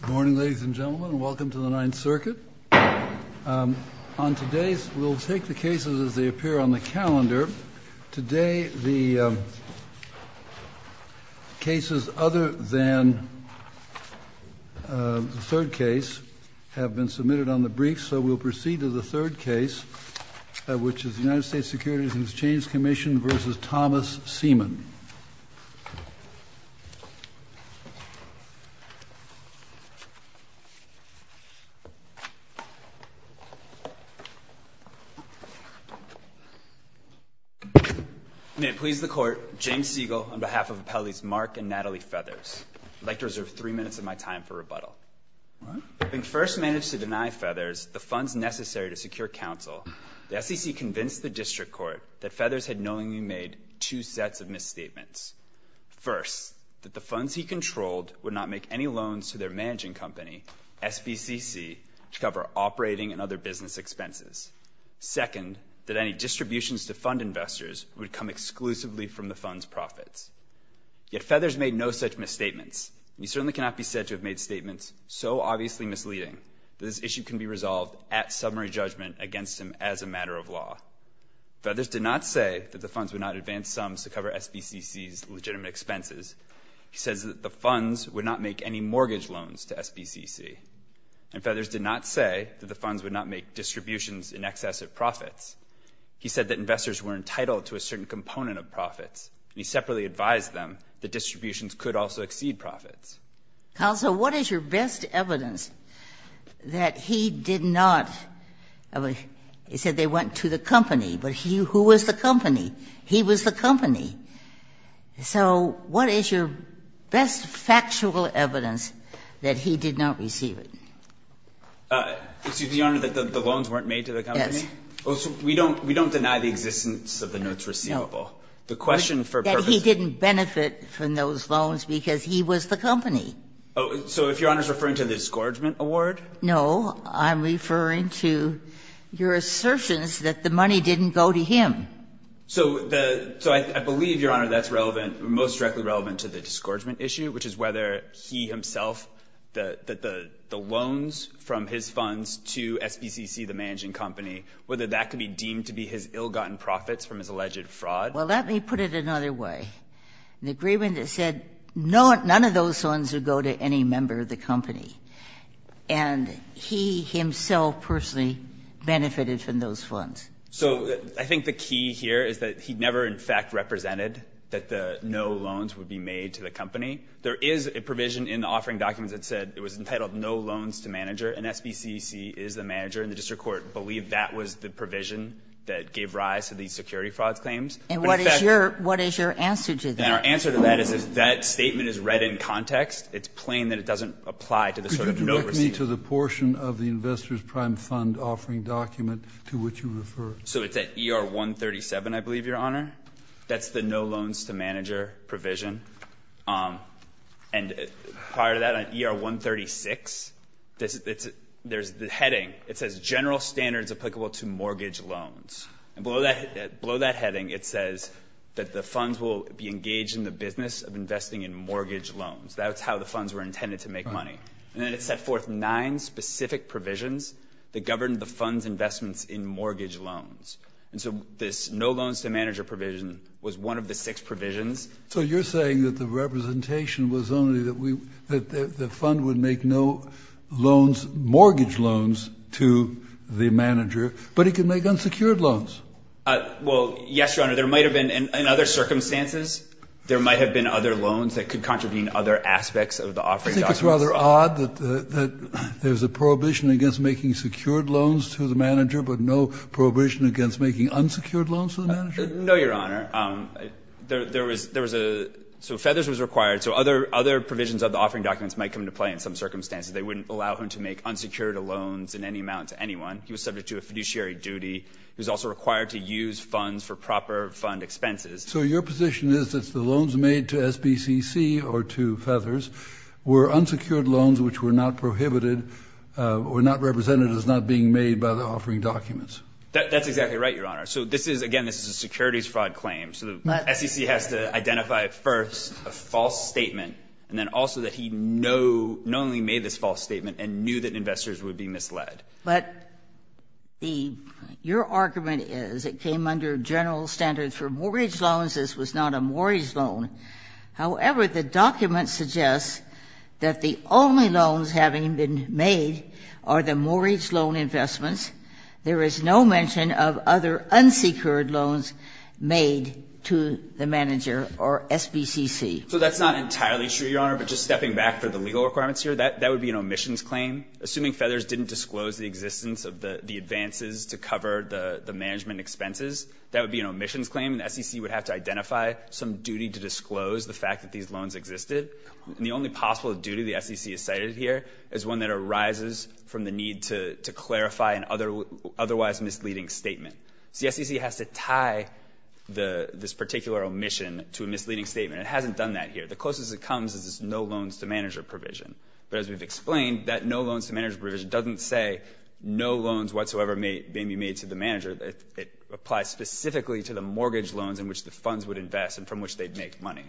Good morning, ladies and gentlemen, and welcome to the Ninth Circuit. On today's – we'll take the cases as they appear on the calendar. Today, the cases other than the third case have been submitted on the briefs, so we'll proceed to the third case, which is the United States Securities and Exchange Commission v. Thomas Seaman. May it please the Court, James Siegel on behalf of Appellees Mark and Natalie Feathers. I'd like to reserve three minutes of my time for rebuttal. Having first managed to deny Feathers the funds necessary to secure counsel, the SEC convinced the District Court that Feathers had knowingly made two sets of misstatements. First, that the funds he controlled would not make any loans to their managing company, SBCC, to cover operating and other business expenses. Second, that any distributions to fund investors would come exclusively from the fund's profits. Yet Feathers made no such misstatements, and he certainly cannot be said to have made statements so obviously misleading that this issue can be resolved at summary judgment against him as a matter of law. Feathers did not say that the funds would not advance sums to cover SBCC's legitimate expenses. He says that the funds would not make any mortgage loans to SBCC. And Feathers did not say that the funds would not make distributions in excess of profits. He said that investors were entitled to a certain component of profits, and he separately advised them that distributions could also exceed profits. Kagan. So what is your best evidence that he did not? He said they went to the company, but who was the company? He was the company. So what is your best factual evidence that he did not receive it? Excuse me, Your Honor, that the loans weren't made to the company? Yes. We don't deny the existence of the notes receivable. The question for purpose is that he didn't benefit from those loans because he was the company. So if Your Honor is referring to the discouragement award? No. I'm referring to your assertions that the money didn't go to him. So I believe, Your Honor, that's relevant, most directly relevant to the discouragement issue, which is whether he himself, that the loans from his funds to SBCC, the managing company, whether that could be deemed to be his ill-gotten profits from his alleged fraud. Well, let me put it another way. The agreement said none of those funds would go to any member of the company. And he himself personally benefited from those funds. So I think the key here is that he never, in fact, represented that the no loans would be made to the company. There is a provision in the offering documents that said it was entitled no loans to manager, and SBCC is the manager, and the district court believed that was the case. And what is your answer to that? And our answer to that is that statement is read in context. It's plain that it doesn't apply to the sort of note received. Could you direct me to the portion of the Investor's Prime Fund offering document to which you refer? So it's at ER 137, I believe, Your Honor. That's the no loans to manager provision. And prior to that, on ER 136, there's the heading. It says general standards applicable to mortgage loans. And below that heading, it says that the funds will be engaged in the business of investing in mortgage loans. That's how the funds were intended to make money. And then it set forth nine specific provisions that governed the fund's investments in mortgage loans. And so this no loans to manager provision was one of the six provisions. So you're saying that the representation was only that the fund would make no loans, mortgage loans to the manager, but it could make unsecured loans? Well, yes, Your Honor. There might have been, in other circumstances, there might have been other loans that could contravene other aspects of the offering documents. I think it's rather odd that there's a prohibition against making secured loans to the manager, but no prohibition against making unsecured loans to the manager? No, Your Honor. There was a so Feathers was required, so other provisions of the offering documents might come into play in some circumstances. They wouldn't allow him to make unsecured loans in any amount to anyone. He was subject to a fiduciary duty. He was also required to use funds for proper fund expenses. So your position is that the loans made to SBCC or to Feathers were unsecured loans which were not prohibited or not represented as not being made by the offering documents? That's exactly right, Your Honor. So this is, again, this is a securities fraud claim. So the SEC has to identify first a false statement and then also that he no only made this false statement and knew that investors would be misled. But your argument is it came under general standards for mortgage loans. This was not a mortgage loan. However, the document suggests that the only loans having been made are the mortgage loan investments. There is no mention of other unsecured loans made to the manager or SBCC. So that's not entirely true, Your Honor. But just stepping back for the legal requirements here, that would be an omissions claim. Assuming Feathers didn't disclose the existence of the advances to cover the management expenses, that would be an omissions claim. And the SEC would have to identify some duty to disclose the fact that these loans existed. And the only possible duty the SEC has cited here is one that arises from the need to clarify an otherwise misleading statement. So the SEC has to tie this particular omission to a misleading statement. It hasn't done that here. The closest it comes is this no loans to manager provision. But as we've explained, that no loans to manager provision doesn't say no loans whatsoever may be made to the manager. It applies specifically to the mortgage loans in which the funds would invest and from which they'd make money.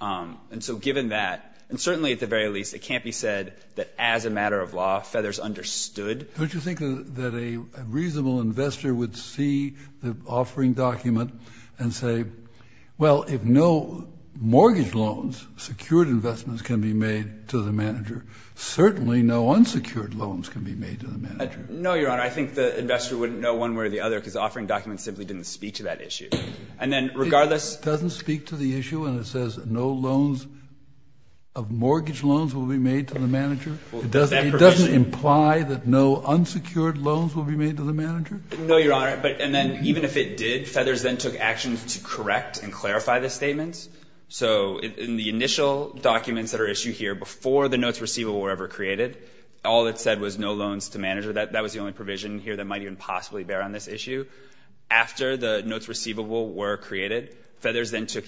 And so given that, and certainly at the very least, it can't be said that as a matter of law, Feathers understood. Don't you think that a reasonable investor would see the offering document and say, well, if no mortgage loans, secured investments can be made to the manager, certainly no unsecured loans can be made to the manager? No, Your Honor. I think the investor wouldn't know one way or the other because the offering document simply didn't speak to that issue. And then regardless of the issue and it says no loans of mortgage loans will be made to the manager, it doesn't imply that no unsecured loans will be made to the manager? No, Your Honor. And then even if it did, Feathers then took action to correct and clarify the statement. So in the initial documents that are issued here before the notes receivable were ever created, all it said was no loans to manager. That was the only provision here that might even possibly bear on this issue. After the notes receivable were created, Feathers then took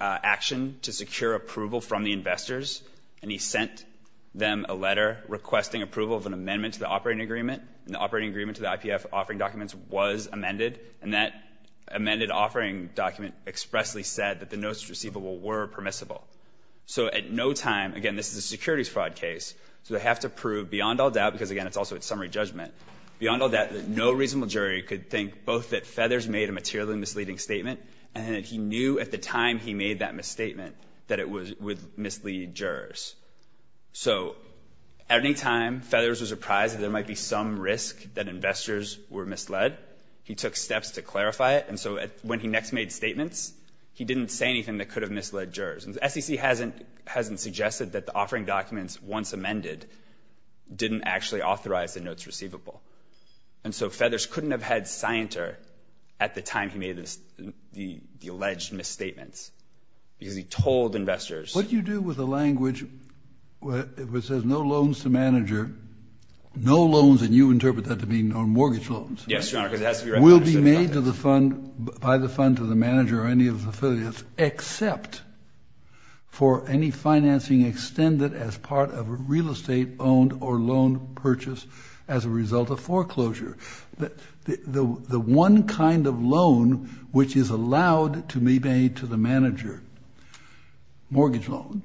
action to secure approval from the investors and he sent them a letter requesting approval of an amendment to the operating agreement. The operating agreement to the IPF offering documents was amended and that amended offering document expressly said that the notes receivable were permissible. So at no time, again this is a securities fraud case, so they have to prove beyond all doubt because again it's also a summary judgment, beyond all doubt that no reasonable jury could think both that Feathers made a materially misleading statement and that he knew at the time he made that misstatement that it would mislead jurors. So at any time, Feathers was surprised that there might be some risk that investors were misled. He took steps to clarify it and so when he next made statements, he didn't say anything that could have misled jurors. The SEC hasn't suggested that the offering documents once amended didn't actually authorize the notes receivable. And so Feathers couldn't have had scienter at the time he made the alleged misstatements because he told investors. What you do with the language which says no loans to manager, no loans and you interpret that to mean mortgage loans. Yes, Your Honor, because it has to be referenced. Will be made by the fund to the manager or any of the affiliates except for any financing extended as part of a real estate owned or loan purchase as a result of foreclosure. The one kind of loan which is allowed to be made to the manager, mortgage loan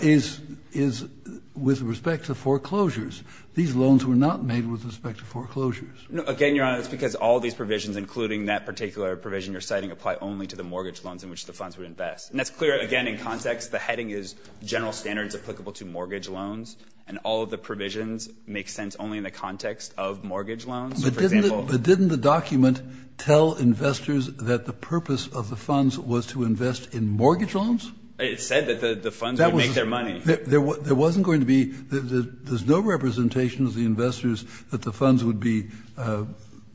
is with respect to foreclosures. These loans were not made with respect to foreclosures. Again, Your Honor, it's because all these provisions, including that particular provision you're citing, apply only to the mortgage loans in which the funds would invest. And that's clear, again, in context. The heading is general standards applicable to mortgage loans and all of the provisions make sense only in the context of mortgage loans. But didn't the document tell investors that the purpose of the funds was to invest in mortgage loans? It said that the funds would make their money. There wasn't going to be, there's no representation of the investors that the funds would be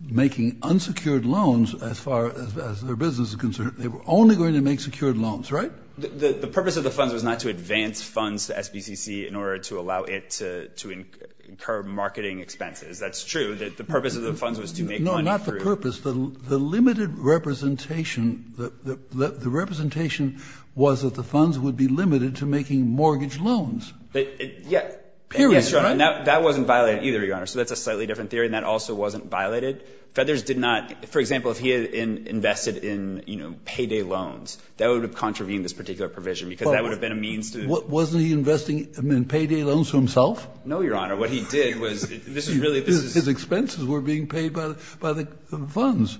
making unsecured loans as far as their business is concerned. They were only going to make secured loans, right? The purpose of the funds was not to advance funds to SBCC in order to allow it to incur marketing expenses. That's true. The purpose of the funds was to make money through. No, not the purpose. The limited representation, the representation was that the funds would be limited to making mortgage loans. Yeah. Period, right? That wasn't violated either, Your Honor. So that's a slightly different theory and that also wasn't violated. Feathers did not, for example, if he had invested in, you know, payday loans, that would have contravened this particular provision because that would have been a means to. Wasn't he investing in payday loans for himself? No, Your Honor. What he did was, this is really, this is. These were being paid by the funds.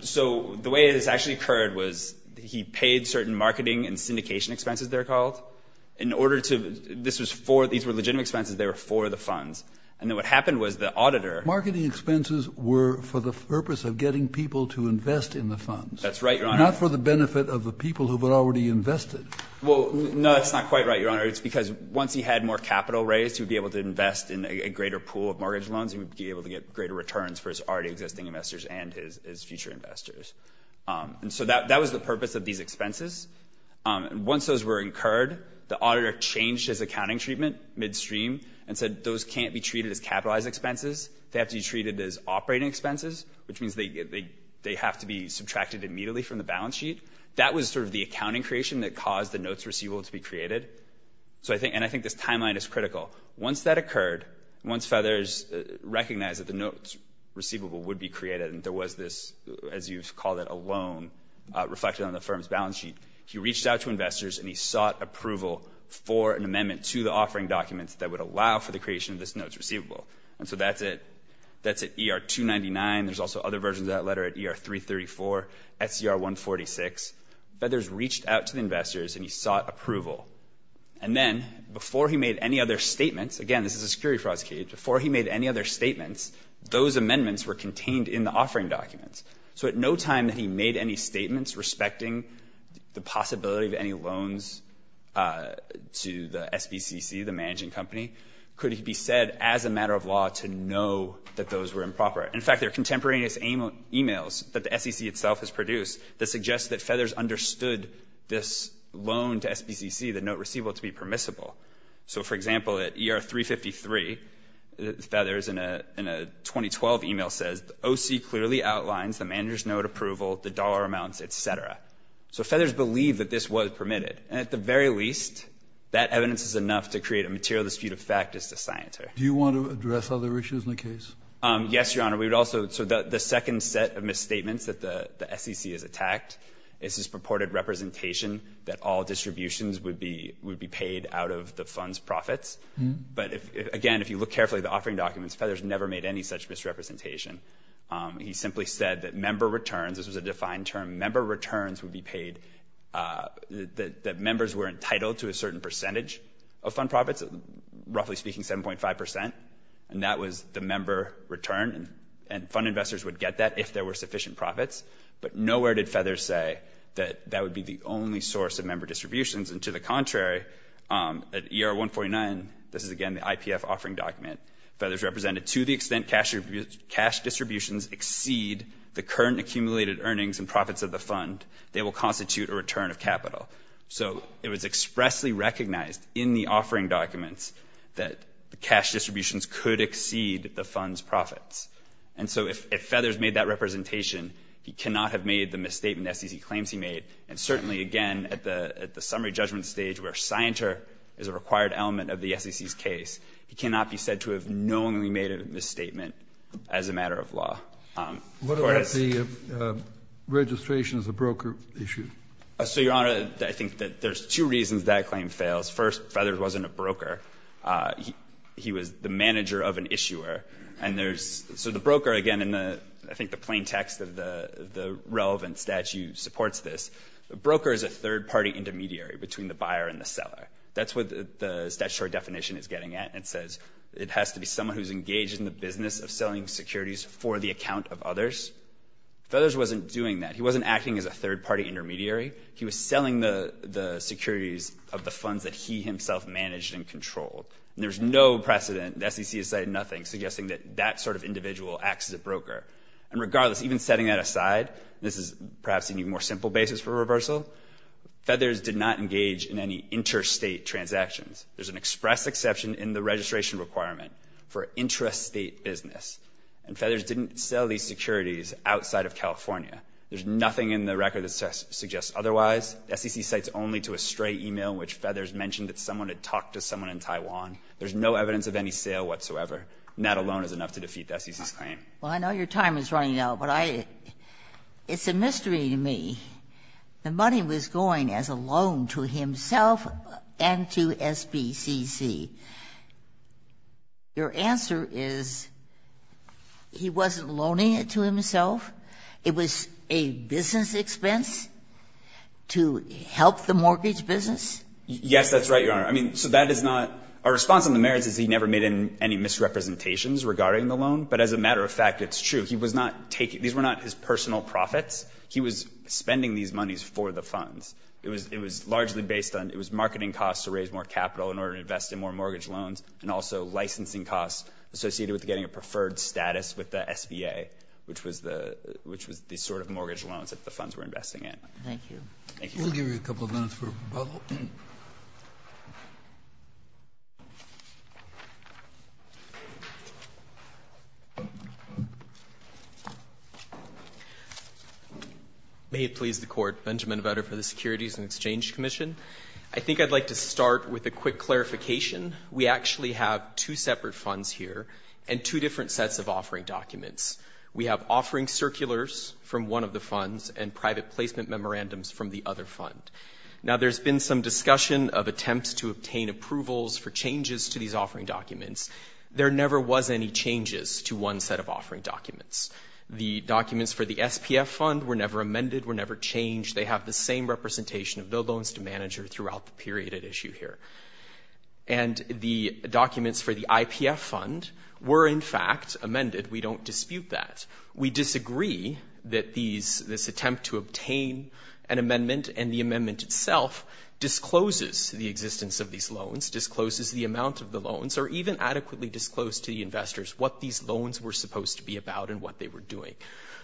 So the way this actually occurred was he paid certain marketing and syndication expenses, they're called. In order to, this was for, these were legitimate expenses. They were for the funds. And then what happened was the auditor. Marketing expenses were for the purpose of getting people to invest in the funds. That's right, Your Honor. Not for the benefit of the people who were already invested. Well, no, that's not quite right, Your Honor. It's because once he had more capital raised, he would be able to invest in a greater pool of mortgage loans and would be able to get greater returns for his already existing investors and his future investors. And so that was the purpose of these expenses. Once those were incurred, the auditor changed his accounting treatment midstream and said those can't be treated as capitalized expenses. They have to be treated as operating expenses, which means they have to be subtracted immediately from the balance sheet. That was sort of the accounting creation that caused the notes receivable to be created. And I think this timeline is critical. Once that occurred, once Feathers recognized that the notes receivable would be created and there was this, as you've called it, a loan reflected on the firm's balance sheet, he reached out to investors and he sought approval for an amendment to the offering documents that would allow for the creation of this notes receivable. And so that's it. That's at ER-299. There's also other versions of that letter at ER-334, SCR-146. Feathers reached out to the investors and he sought approval. And then before he made any other statements, again, this is a security fraud case, before he made any other statements, those amendments were contained in the offering documents. So at no time that he made any statements respecting the possibility of any loans to the SBCC, the managing company, could it be said as a matter of law to know that those were improper. In fact, there are contemporaneous emails that the SEC itself has produced that suggests that to SBCC the note receivable to be permissible. So, for example, at ER-353, Feathers in a 2012 email says, the OC clearly outlines the manager's note approval, the dollar amounts, et cetera. So Feathers believed that this was permitted. And at the very least, that evidence is enough to create a material dispute of fact as to Scienter. Do you want to address other issues in the case? Yes, Your Honor. We would also, so the second set of misstatements that the SEC has attacked is this purported misrepresentation that all distributions would be paid out of the fund's profits. But, again, if you look carefully at the offering documents, Feathers never made any such misrepresentation. He simply said that member returns, this was a defined term, member returns would be paid, that members were entitled to a certain percentage of fund profits, roughly speaking 7.5 percent. And that was the member return. And fund investors would get that if there were sufficient profits. But nowhere did Feathers say that that would be the only source of member distributions. And to the contrary, at ER-149, this is, again, the IPF offering document, Feathers represented to the extent cash distributions exceed the current accumulated earnings and profits of the fund, they will constitute a return of capital. So it was expressly recognized in the offering documents that the cash distributions could exceed the fund's profits. And so if Feathers made that representation, he cannot have made the misstatement the SEC claims he made. And certainly, again, at the summary judgment stage where scienter is a required element of the SEC's case, he cannot be said to have knowingly made a misstatement as a matter of law. What about the registration as a broker issue? So, Your Honor, I think that there's two reasons that claim fails. First, Feathers wasn't a broker. He was the manager of an issuer. So the broker, again, I think the plain text of the relevant statute supports this. The broker is a third-party intermediary between the buyer and the seller. That's what the statutory definition is getting at. It says it has to be someone who's engaged in the business of selling securities for the account of others. Feathers wasn't doing that. He wasn't acting as a third-party intermediary. He was selling the securities of the funds that he himself managed and controlled. And there's no precedent, the SEC has said nothing, suggesting that that sort of individual acts as a broker. And regardless, even setting that aside, this is perhaps an even more simple basis for reversal, Feathers did not engage in any interstate transactions. There's an express exception in the registration requirement for interstate business. And Feathers didn't sell these securities outside of California. There's nothing in the record that suggests otherwise. The SEC cites only to a stray e-mail in which Feathers mentioned that someone had talked to someone in Taiwan. There's no evidence of any sale whatsoever. And that alone is enough to defeat the SEC's claim. Ginsburg. Well, I know your time is running out, but I — it's a mystery to me. The money was going as a loan to himself and to SBCC. Your answer is he wasn't loaning it to himself. It was a business expense to help the mortgage business? Yes, that's right, Your Honor. I mean, so that is not — our response on the merits is he never made any misrepresentations regarding the loan. But as a matter of fact, it's true. He was not taking — these were not his personal profits. He was spending these monies for the funds. It was largely based on — it was marketing costs to raise more capital in order to invest in more mortgage loans and also licensing costs associated with getting a preferred status with the SBA, which was the — which was the sort of mortgage loans that the funds were investing in. Thank you. Thank you. We'll give you a couple of minutes for a rebuttal. May it please the Court. Benjamin Vetter for the Securities and Exchange Commission. I think I'd like to start with a quick clarification. We actually have two separate funds here and two different sets of offering documents. We have offering circulars from one of the funds and private placement memorandums from the other fund. Now, there's been some discussion of attempts to obtain approvals for changes to these offering documents. There never was any changes to one set of offering documents. The documents for the SPF fund were never amended, were never changed. They have the same representation of the loans to manager throughout the period at issue here. And the documents for the IPF fund were, in fact, amended. We don't dispute that. We disagree that this attempt to obtain an amendment and the amendment itself discloses the existence of these loans, discloses the amount of the loans, or even adequately disclosed to the investors what these loans were supposed to be about and what they were doing.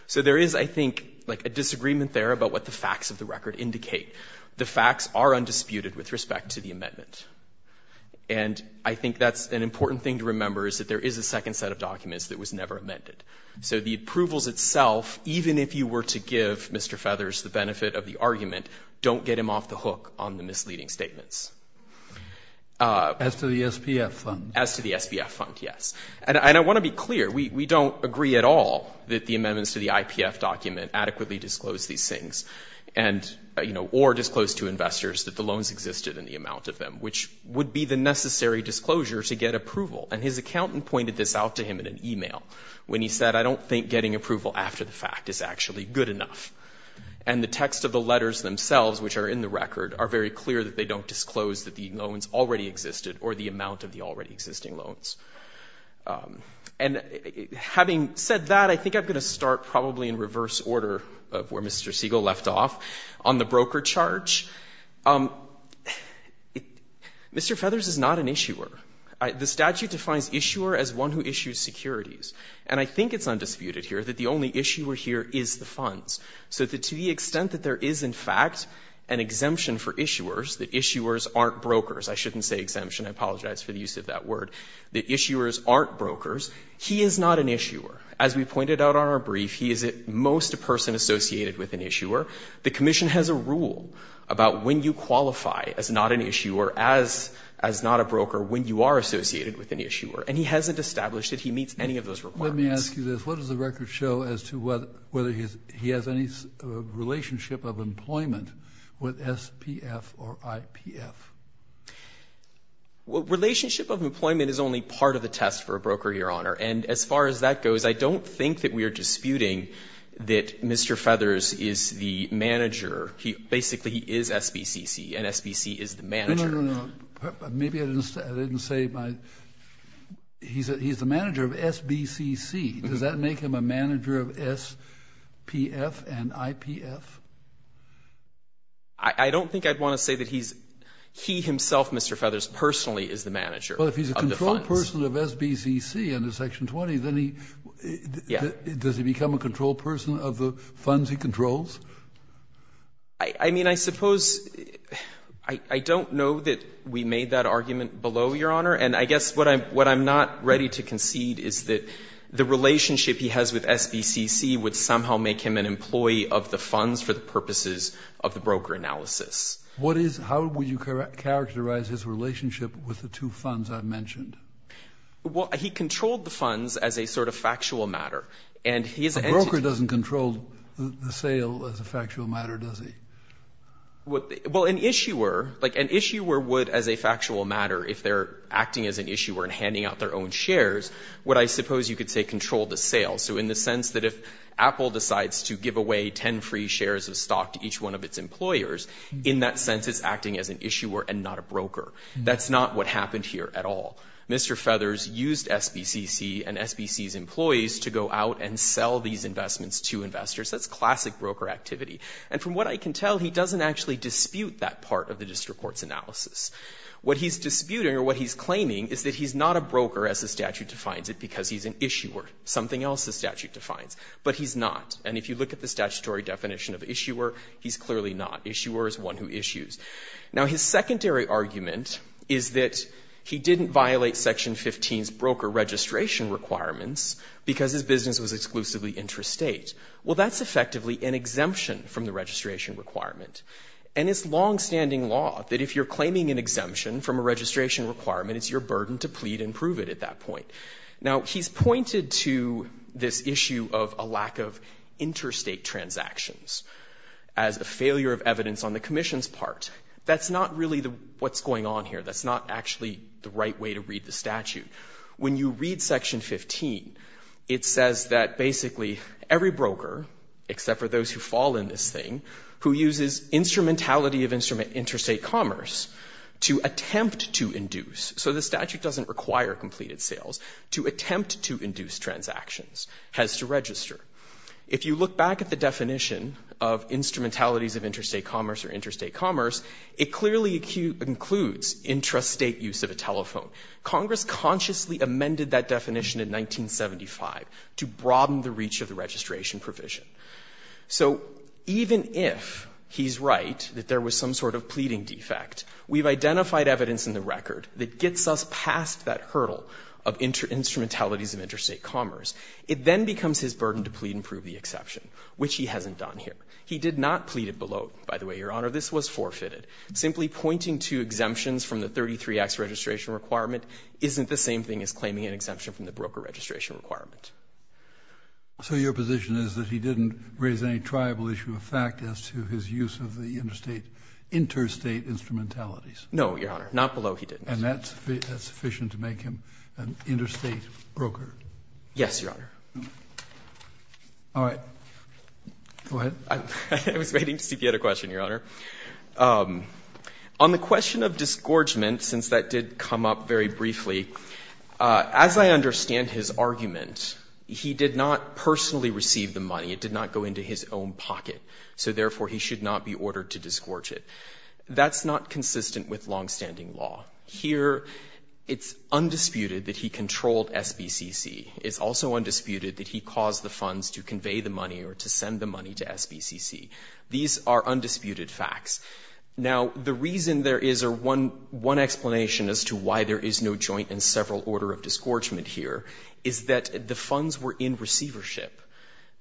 So there is, I think, like a disagreement there about what the facts of the record indicate. The facts are undisputed with respect to the amendment. And I think that's an important thing to remember is that there is a second set of documents that was never amended. So the approvals itself, even if you were to give Mr. Feathers the benefit of the argument, don't get him off the hook on the misleading statements. As to the SPF fund? As to the SPF fund, yes. And I want to be clear. We don't agree at all that the amendments to the IPF document adequately disclose these things or disclose to investors that the loans existed and the amount of them, which would be the necessary disclosure to get approval. And his accountant pointed this out to him in an e-mail when he said, I don't think getting approval after the fact is actually good enough. And the text of the letters themselves, which are in the record, are very clear that they don't disclose that the loans already existed or the amount of the already existing loans. And having said that, I think I'm going to start probably in reverse order of where Mr. Siegel left off, on the broker charge. Mr. Feathers is not an issuer. The statute defines issuer as one who issues securities. And I think it's undisputed here that the only issuer here is the funds. So to the extent that there is, in fact, an exemption for issuers, that issuers aren't brokers, I shouldn't say exemption, I apologize for the use of that word, that issuers aren't brokers, he is not an issuer. As we pointed out on our brief, he is at most a person associated with an issuer. The commission has a rule about when you qualify as not an issuer, as not a broker, when you are associated with an issuer. And he hasn't established that he meets any of those requirements. Let me ask you this. What does the record show as to whether he has any relationship of employment with SPF or IPF? Relationship of employment is only part of the test for a broker, Your Honor. And as far as that goes, I don't think that we are disputing that Mr. Feathers is the manager. Basically, he is SBCC, and SBCC is the manager. No, no, no. Maybe I didn't say my, he is the manager of SBCC. Does that make him a manager of SPF and IPF? I don't think I would want to say that he himself, Mr. Feathers, personally is the manager of the funds. Well, if he is a control person of SBCC under Section 20, then he, does he become a control person of the funds he controls? I mean, I suppose, I don't know that we made that argument below, Your Honor. And I guess what I'm not ready to concede is that the relationship he has with SBCC would somehow make him an employee of the funds for the purposes of the broker analysis. What is, how would you characterize his relationship with the two funds I mentioned? Well, he controlled the funds as a sort of factual matter. A broker doesn't control the sale as a factual matter, does he? Well, an issuer, like an issuer would as a factual matter, if they're acting as an issuer and handing out their own shares, what I suppose you could say control the sale. So in the sense that if Apple decides to give away 10 free shares of stock to each one of its employers, in that sense it's acting as an issuer and not a broker. That's not what happened here at all. Mr. Feathers used SBCC and SBC's employees to go out and sell these investments to investors. That's classic broker activity. And from what I can tell, he doesn't actually dispute that part of the district court's analysis. What he's disputing or what he's claiming is that he's not a broker as the statute defines it because he's an issuer, something else the statute defines. But he's not. And if you look at the statutory definition of issuer, he's clearly not. Issuer is one who issues. Now, his secondary argument is that he didn't violate Section 15's broker registration requirements because his business was exclusively interstate. Well, that's effectively an exemption from the registration requirement. And it's longstanding law that if you're claiming an exemption from a registration requirement, it's your burden to plead and prove it at that point. Now, he's pointed to this issue of a lack of interstate transactions as a failure of evidence on the commission's part. That's not really what's going on here. That's not actually the right way to read the statute. When you read Section 15, it says that basically every broker, except for those who fall in this thing, who uses instrumentality of interstate commerce to attempt to induce. So the statute doesn't require completed sales. To attempt to induce transactions has to register. If you look back at the definition of instrumentalities of interstate commerce or interstate commerce, it clearly includes intrastate use of a telephone. Congress consciously amended that definition in 1975 to broaden the reach of the registration provision. So even if he's right that there was some sort of pleading defect, we've identified evidence in the record that gets us past that hurdle of instrumentalities of interstate commerce. It then becomes his burden to plead and prove the exception, which he hasn't done here. He did not plead it below. By the way, Your Honor, this was forfeited. Simply pointing to exemptions from the 33X registration requirement isn't the same thing as claiming an exemption from the broker registration requirement. So your position is that he didn't raise any tribal issue of fact as to his use of the interstate instrumentalities? No, Your Honor. Not below he didn't. And that's sufficient to make him an interstate broker? Yes, Your Honor. All right. Go ahead. I was waiting to see if you had a question, Your Honor. On the question of disgorgement, since that did come up very briefly, as I understand his argument, he did not personally receive the money. It did not go into his own pocket. So, therefore, he should not be ordered to disgorge it. That's not consistent with longstanding law. Here it's undisputed that he controlled SBCC. It's also undisputed that he caused the funds to convey the money or to send the money to SBCC. These are undisputed facts. Now, the reason there is one explanation as to why there is no joint and several order of disgorgement here is that the funds were in receivership.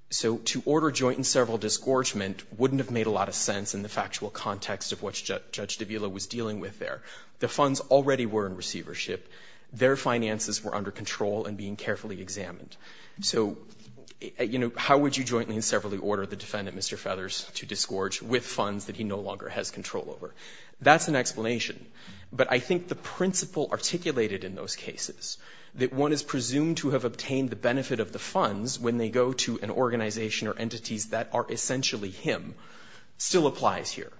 So to order joint and several disgorgement wouldn't have made a lot of sense in the factual context of what Judge de Villa was dealing with there. The funds already were in receivership. Their finances were under control and being carefully examined. So, you know, how would you jointly and severally order the defendant, Mr. Feathers, to disgorge with funds that he no longer has control over? That's an explanation. But I think the principle articulated in those cases, that one is presumed to have obtained the benefit of the funds when they go to an organization or entities that are essentially him, still applies here.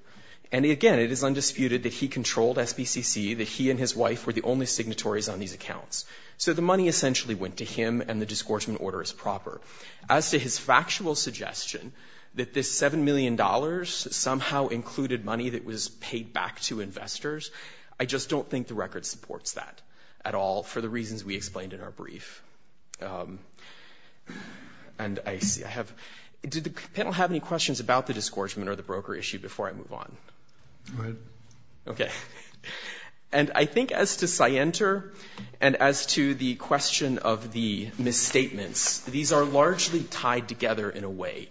And, again, it is undisputed that he controlled SBCC, that he and his wife were the only signatories on these accounts. So the money essentially went to him and the disgorgement order is proper. As to his factual suggestion that this $7 million somehow included money that was I just don't think the record supports that at all for the reasons we explained in our brief. And I see I have – did the panel have any questions about the disgorgement or the broker issue before I move on? Go ahead. Okay. And I think as to Sienter and as to the question of the misstatements, these are largely tied together in a way.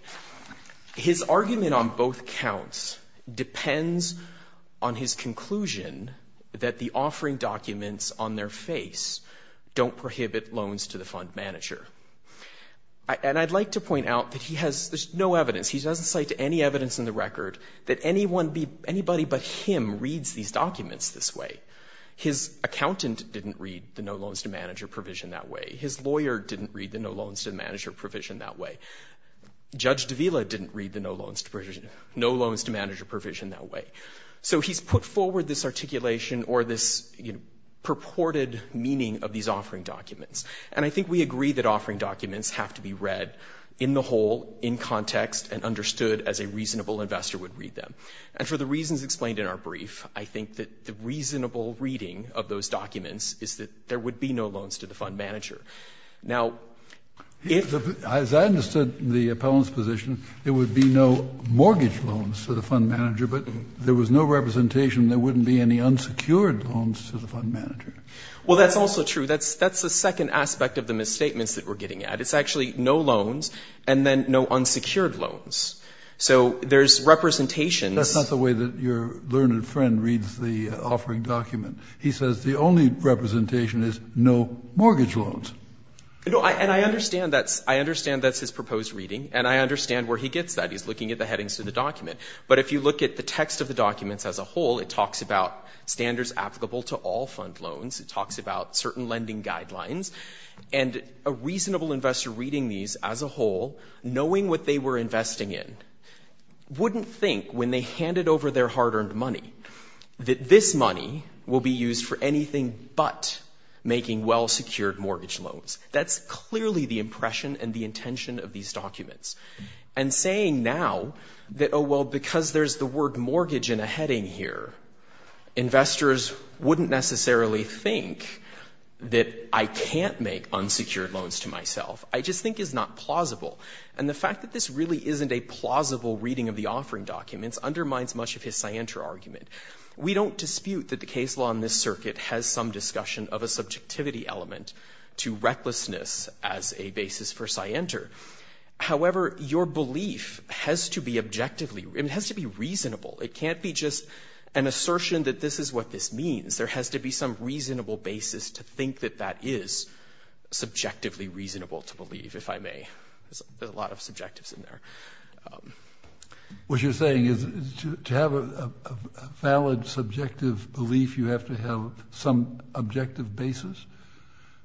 His argument on both accounts depends on his conclusion that the offering documents on their face don't prohibit loans to the fund manager. And I'd like to point out that he has – there's no evidence, he doesn't cite any evidence in the record that anyone be – anybody but him reads these documents this way. His accountant didn't read the no loans to manager provision that way. His lawyer didn't read the no loans to manager provision that way. Judge Davila didn't read the no loans to provision – no loans to manager provision that way. So he's put forward this articulation or this purported meaning of these offering documents. And I think we agree that offering documents have to be read in the whole, in context, and understood as a reasonable investor would read them. And for the reasons explained in our brief, I think that the reasonable reading of those documents is that there would be no loans to the fund manager. Now, if – As I understood the appellant's position, there would be no mortgage loans to the fund manager, but there was no representation there wouldn't be any unsecured loans to the fund manager. Well, that's also true. That's the second aspect of the misstatements that we're getting at. It's actually no loans and then no unsecured loans. So there's representations – That's not the way that your learned friend reads the offering document. He says the only representation is no mortgage loans. And I understand that's his proposed reading, and I understand where he gets that. He's looking at the headings of the document. But if you look at the text of the documents as a whole, it talks about standards applicable to all fund loans. It talks about certain lending guidelines. And a reasonable investor reading these as a whole, knowing what they were investing in, wouldn't think when they handed over their hard-earned money that this money will be used for anything but making well-secured mortgage loans. That's clearly the impression and the intention of these documents. And saying now that, oh, well, because there's the word mortgage in a heading here, investors wouldn't necessarily think that I can't make unsecured loans to myself. I just think it's not plausible. And the fact that this really isn't a plausible reading of the offering documents undermines much of his scienter argument. We don't dispute that the case law in this circuit has some discussion of a subjectivity element to recklessness as a basis for scienter. However, your belief has to be objectively, it has to be reasonable. It can't be just an assertion that this is what this means. There has to be some reasonable basis to think that that is subjectively reasonable to believe, if I may. There's a lot of subjectives in there. What you're saying is to have a valid subjective belief, you have to have some objective basis?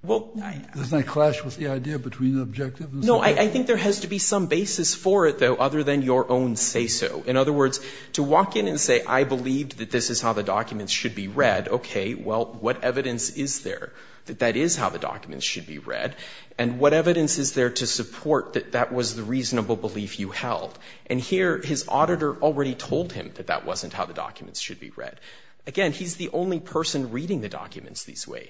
Doesn't that clash with the idea between the objective and subjective? No, I think there has to be some basis for it, though, other than your own say-so. In other words, to walk in and say, I believe that this is how the documents should be read, okay, well, what evidence is there that that is how the documents should be read? And what evidence is there to support that that was the reasonable belief you felt? And here, his auditor already told him that that wasn't how the documents should be read. Again, he's the only person reading the documents this way.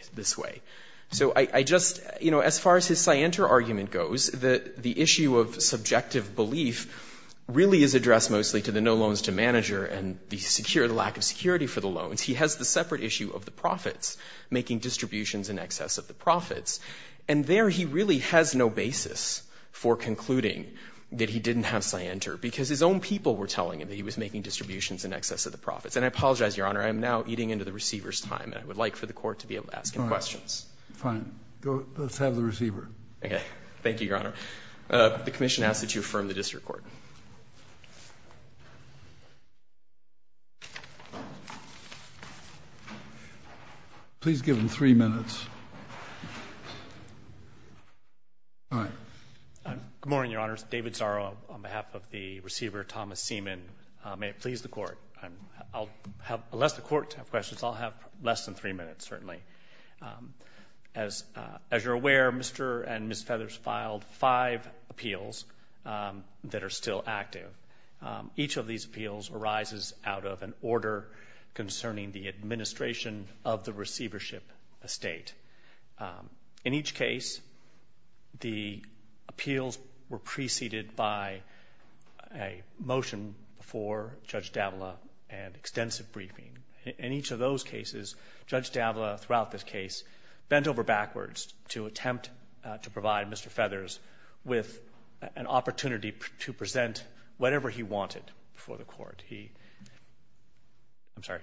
So I just, you know, as far as his scienter argument goes, the issue of subjective belief really is addressed mostly to the no loans to manager and the lack of security for the loans. He has the separate issue of the profits, making distributions in excess of the profits. And there he really has no basis for concluding that he didn't have scienter because his own people were telling him that he was making distributions in excess of the profits. And I apologize, Your Honor, I am now eating into the receiver's time and I would like for the court to be able to ask him questions. Fine. Let's have the receiver. Okay. Thank you, Your Honor. The commission asks that you affirm the district court. Please give him three minutes. Good morning, Your Honors. David Zaro on behalf of the receiver, Thomas Seaman. May it please the court. I'll have, unless the court have questions, I'll have less than three minutes, certainly. As you're aware, Mr. and Ms. Feathers filed five appeals that are still active. Each of these appeals arises out of an order concerning the administration of the receivership estate. In each case, the appeals were preceded by a motion for Judge Davila and extensive briefing. In each of those cases, Judge Davila, throughout this case, bent over backwards to attempt to provide Mr. Feathers with an opportunity to present whatever he wanted for the court. I'm sorry.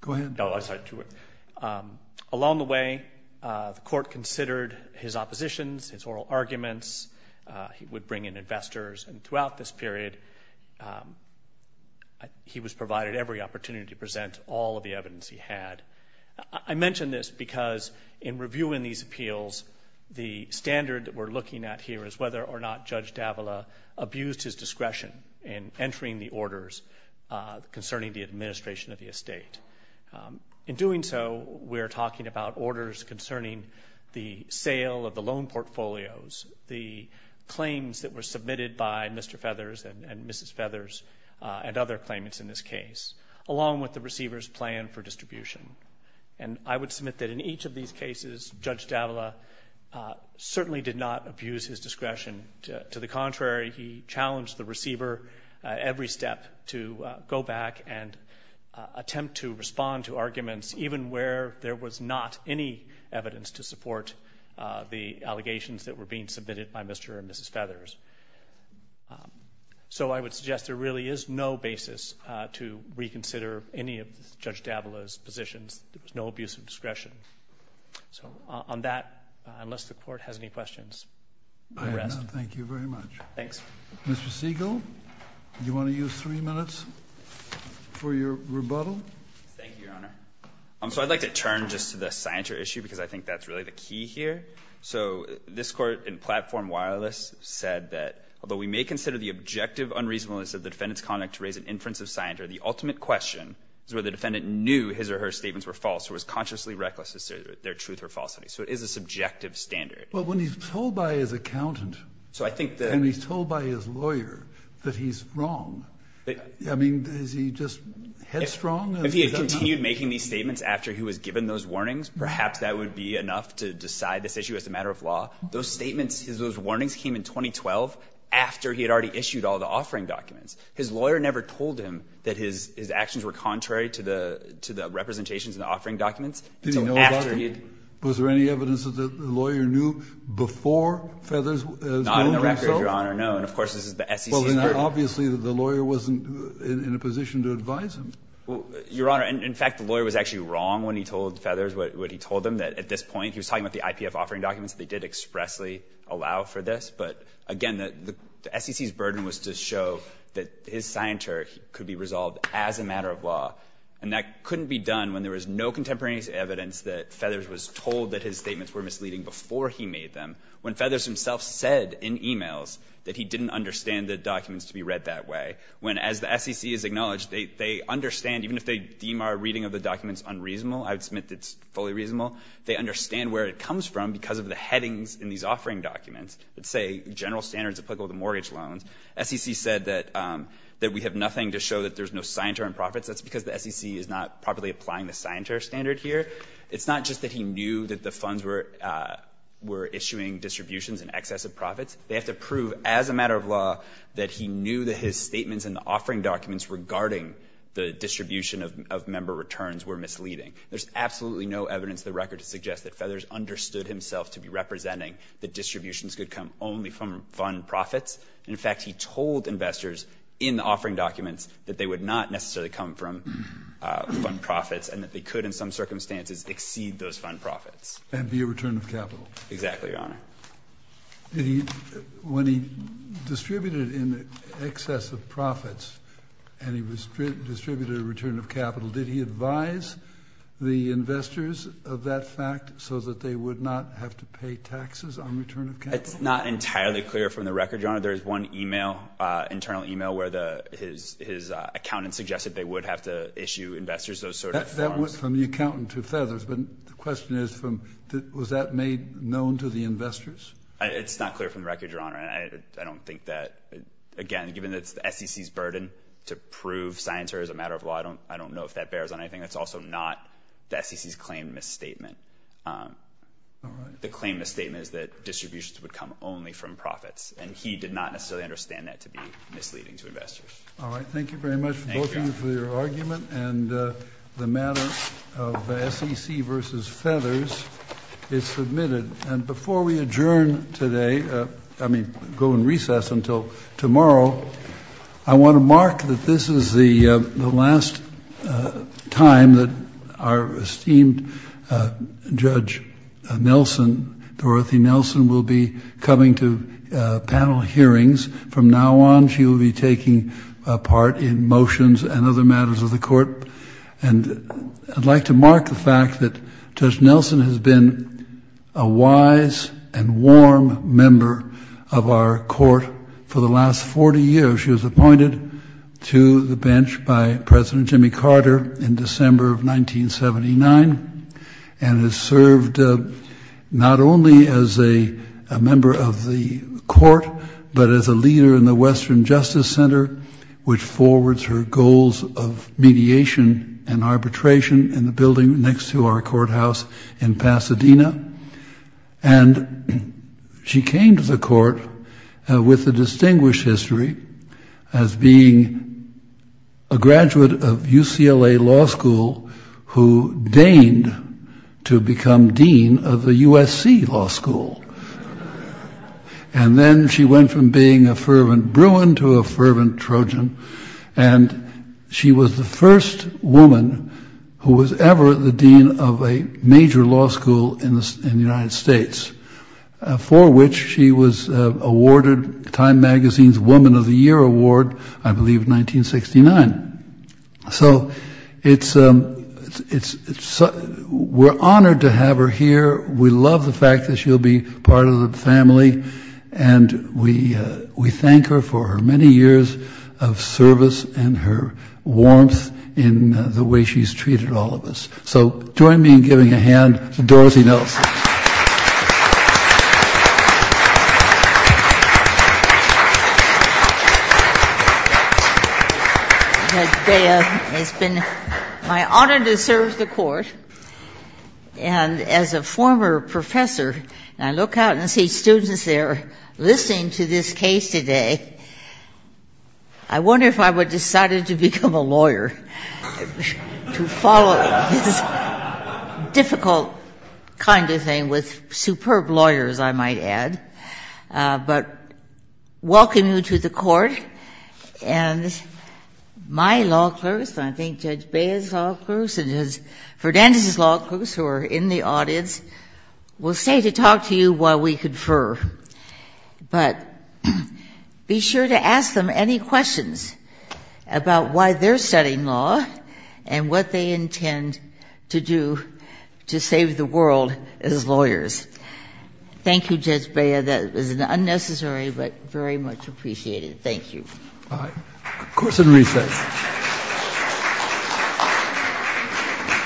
Go ahead. No, I'm sorry. Along the way, the court considered his oppositions, his oral arguments. He would bring in investors. Throughout this period, he was provided every opportunity to present all of the evidence he had. I mention this because in reviewing these appeals, the standard that we're looking at here is whether or not Judge Davila abused his discretion in entering the orders concerning the administration of the estate. In doing so, we're talking about orders concerning the sale of the loan portfolios, the claims that were submitted by Mr. Feathers and Mrs. Feathers and other claimants in this case, along with the receiver's plan for distribution. I would submit that in each of these cases, Judge Davila certainly did not abuse his discretion. To the contrary, he challenged the receiver every step to go back and attempt to respond to arguments, even where there was not any evidence to support the allegations that were being submitted by Mr. and Mrs. Feathers. I would suggest there really is no basis to reconsider any of Judge Davila's positions. There was no abuse of discretion. On that, unless the court has any questions. I have none. Thank you very much. Thanks. Mr. Siegel, do you want to use three minutes for your rebuttal? Thank you, Your Honor. I'd like to turn just to the signature issue because I think that's really the key here. So this court in Platform Wireless said that, although we may consider the objective unreasonableness of the defendant's conduct to raise an inference of signature, the ultimate question is whether the defendant knew his or her statements were false or was consciously reckless as to their truth or falsity. So it is a subjective standard. But when he's told by his accountant and he's told by his lawyer that he's wrong, I mean, is he just headstrong? If he had continued making these statements after he was given those warnings, perhaps that would be enough to decide this issue as a matter of law. Those statements, those warnings came in 2012 after he had already issued all the offering documents. His lawyer never told him that his actions were contrary to the representations in the offering documents. So after he had ---- Did he know about it? Was there any evidence that the lawyer knew before Feathers has known himself? Not in the record, Your Honor, no. And, of course, this is the SEC's burden. Well, then obviously the lawyer wasn't in a position to advise him. Your Honor, in fact, the lawyer was actually wrong when he told Feathers what he told him, that at this point he was talking about the IPF offering documents. They did expressly allow for this. But, again, the SEC's burden was to show that his signature could be resolved as a matter of law. And that couldn't be done when there was no contemporaneous evidence that Feathers was told that his statements were misleading before he made them, when Feathers himself said in e-mails that he didn't understand the documents to be read that way. When, as the SEC has acknowledged, they understand, even if they deem our reading of the documents unreasonable, I would submit that it's fully reasonable, they understand where it comes from because of the headings in these offering documents that say general standards applicable to mortgage loans. SEC said that we have nothing to show that there's no signatory profits. That's because the SEC is not properly applying the signatory standard here. It's not just that he knew that the funds were issuing distributions in excess of profits. They have to prove as a matter of law that he knew that his statements in the offering documents regarding the distribution of member returns were misleading. There's absolutely no evidence in the record to suggest that Feathers understood himself to be representing that distributions could come only from fund profits. And, in fact, he told investors in the offering documents that they would not necessarily come from fund profits and that they could, in some circumstances, exceed those And be a return of capital. Exactly, Your Honor. When he distributed in excess of profits and he distributed a return of capital, did he advise the investors of that fact so that they would not have to pay taxes on return of capital? It's not entirely clear from the record, Your Honor. There is one email, internal email, where his accountant suggested they would have to issue investors those sort of forms. That went from the accountant to Feathers. But the question is, was that made known to the investors? It's not clear from the record, Your Honor. I don't think that, again, given that it's the SEC's burden to prove science or as a matter of law, I don't know if that bears on anything. That's also not the SEC's claimed misstatement. All right. The claimed misstatement is that distributions would come only from profits. And he did not necessarily understand that to be misleading to investors. All right. Thank you very much, both of you, for your argument. And the matter of SEC versus Feathers is submitted. And before we adjourn today, I mean go in recess until tomorrow, I want to mark that this is the last time that our esteemed Judge Nelson, Dorothy Nelson, will be coming to panel hearings. From now on, she will be taking part in motions and other matters of the court. And I'd like to mark the fact that Judge Nelson has been a wise and warm member of our court for the last 40 years. She was appointed to the bench by President Jimmy Carter in December of 1979 and has served not only as a member of the court, but as a leader in the Western Justice Center, which forwards her goals of mediation and arbitration in the building next to our courthouse in Pasadena. And she came to the court with a distinguished history as being a graduate of UCLA Law School who deigned to become dean of the USC Law School. And then she went from being a fervent Bruin to a fervent Trojan. And she was the first woman who was ever the dean of a major law school in the United States, for which she was awarded Time Magazine's Woman of the Year Award, I believe, in 1969. So we're honored to have her here. We love the fact that she'll be part of the family. And we thank her for her many years of service and her warmth in the way she's treated all of us. So join me in giving a hand to Dorothy Nelson. Thank you. It's been my honor to serve the court. And as a former professor, I look out and see students there listening to this case today. I wonder if I would have decided to become a lawyer, to follow this difficult kind of thing with superb lawyers, I might add. But welcome you to the court. And my law clerks, and I think Judge Baez's law clerks and Judge Ferdandus's law clerks who are in the audience, will stay to talk to you while we confer. But be sure to ask them any questions about why they're studying law and what they intend to do to save the world as lawyers. Thank you, Judge Baez. That was an unnecessary but very much appreciated. Thank you. All right. Court is in recess. Thank you.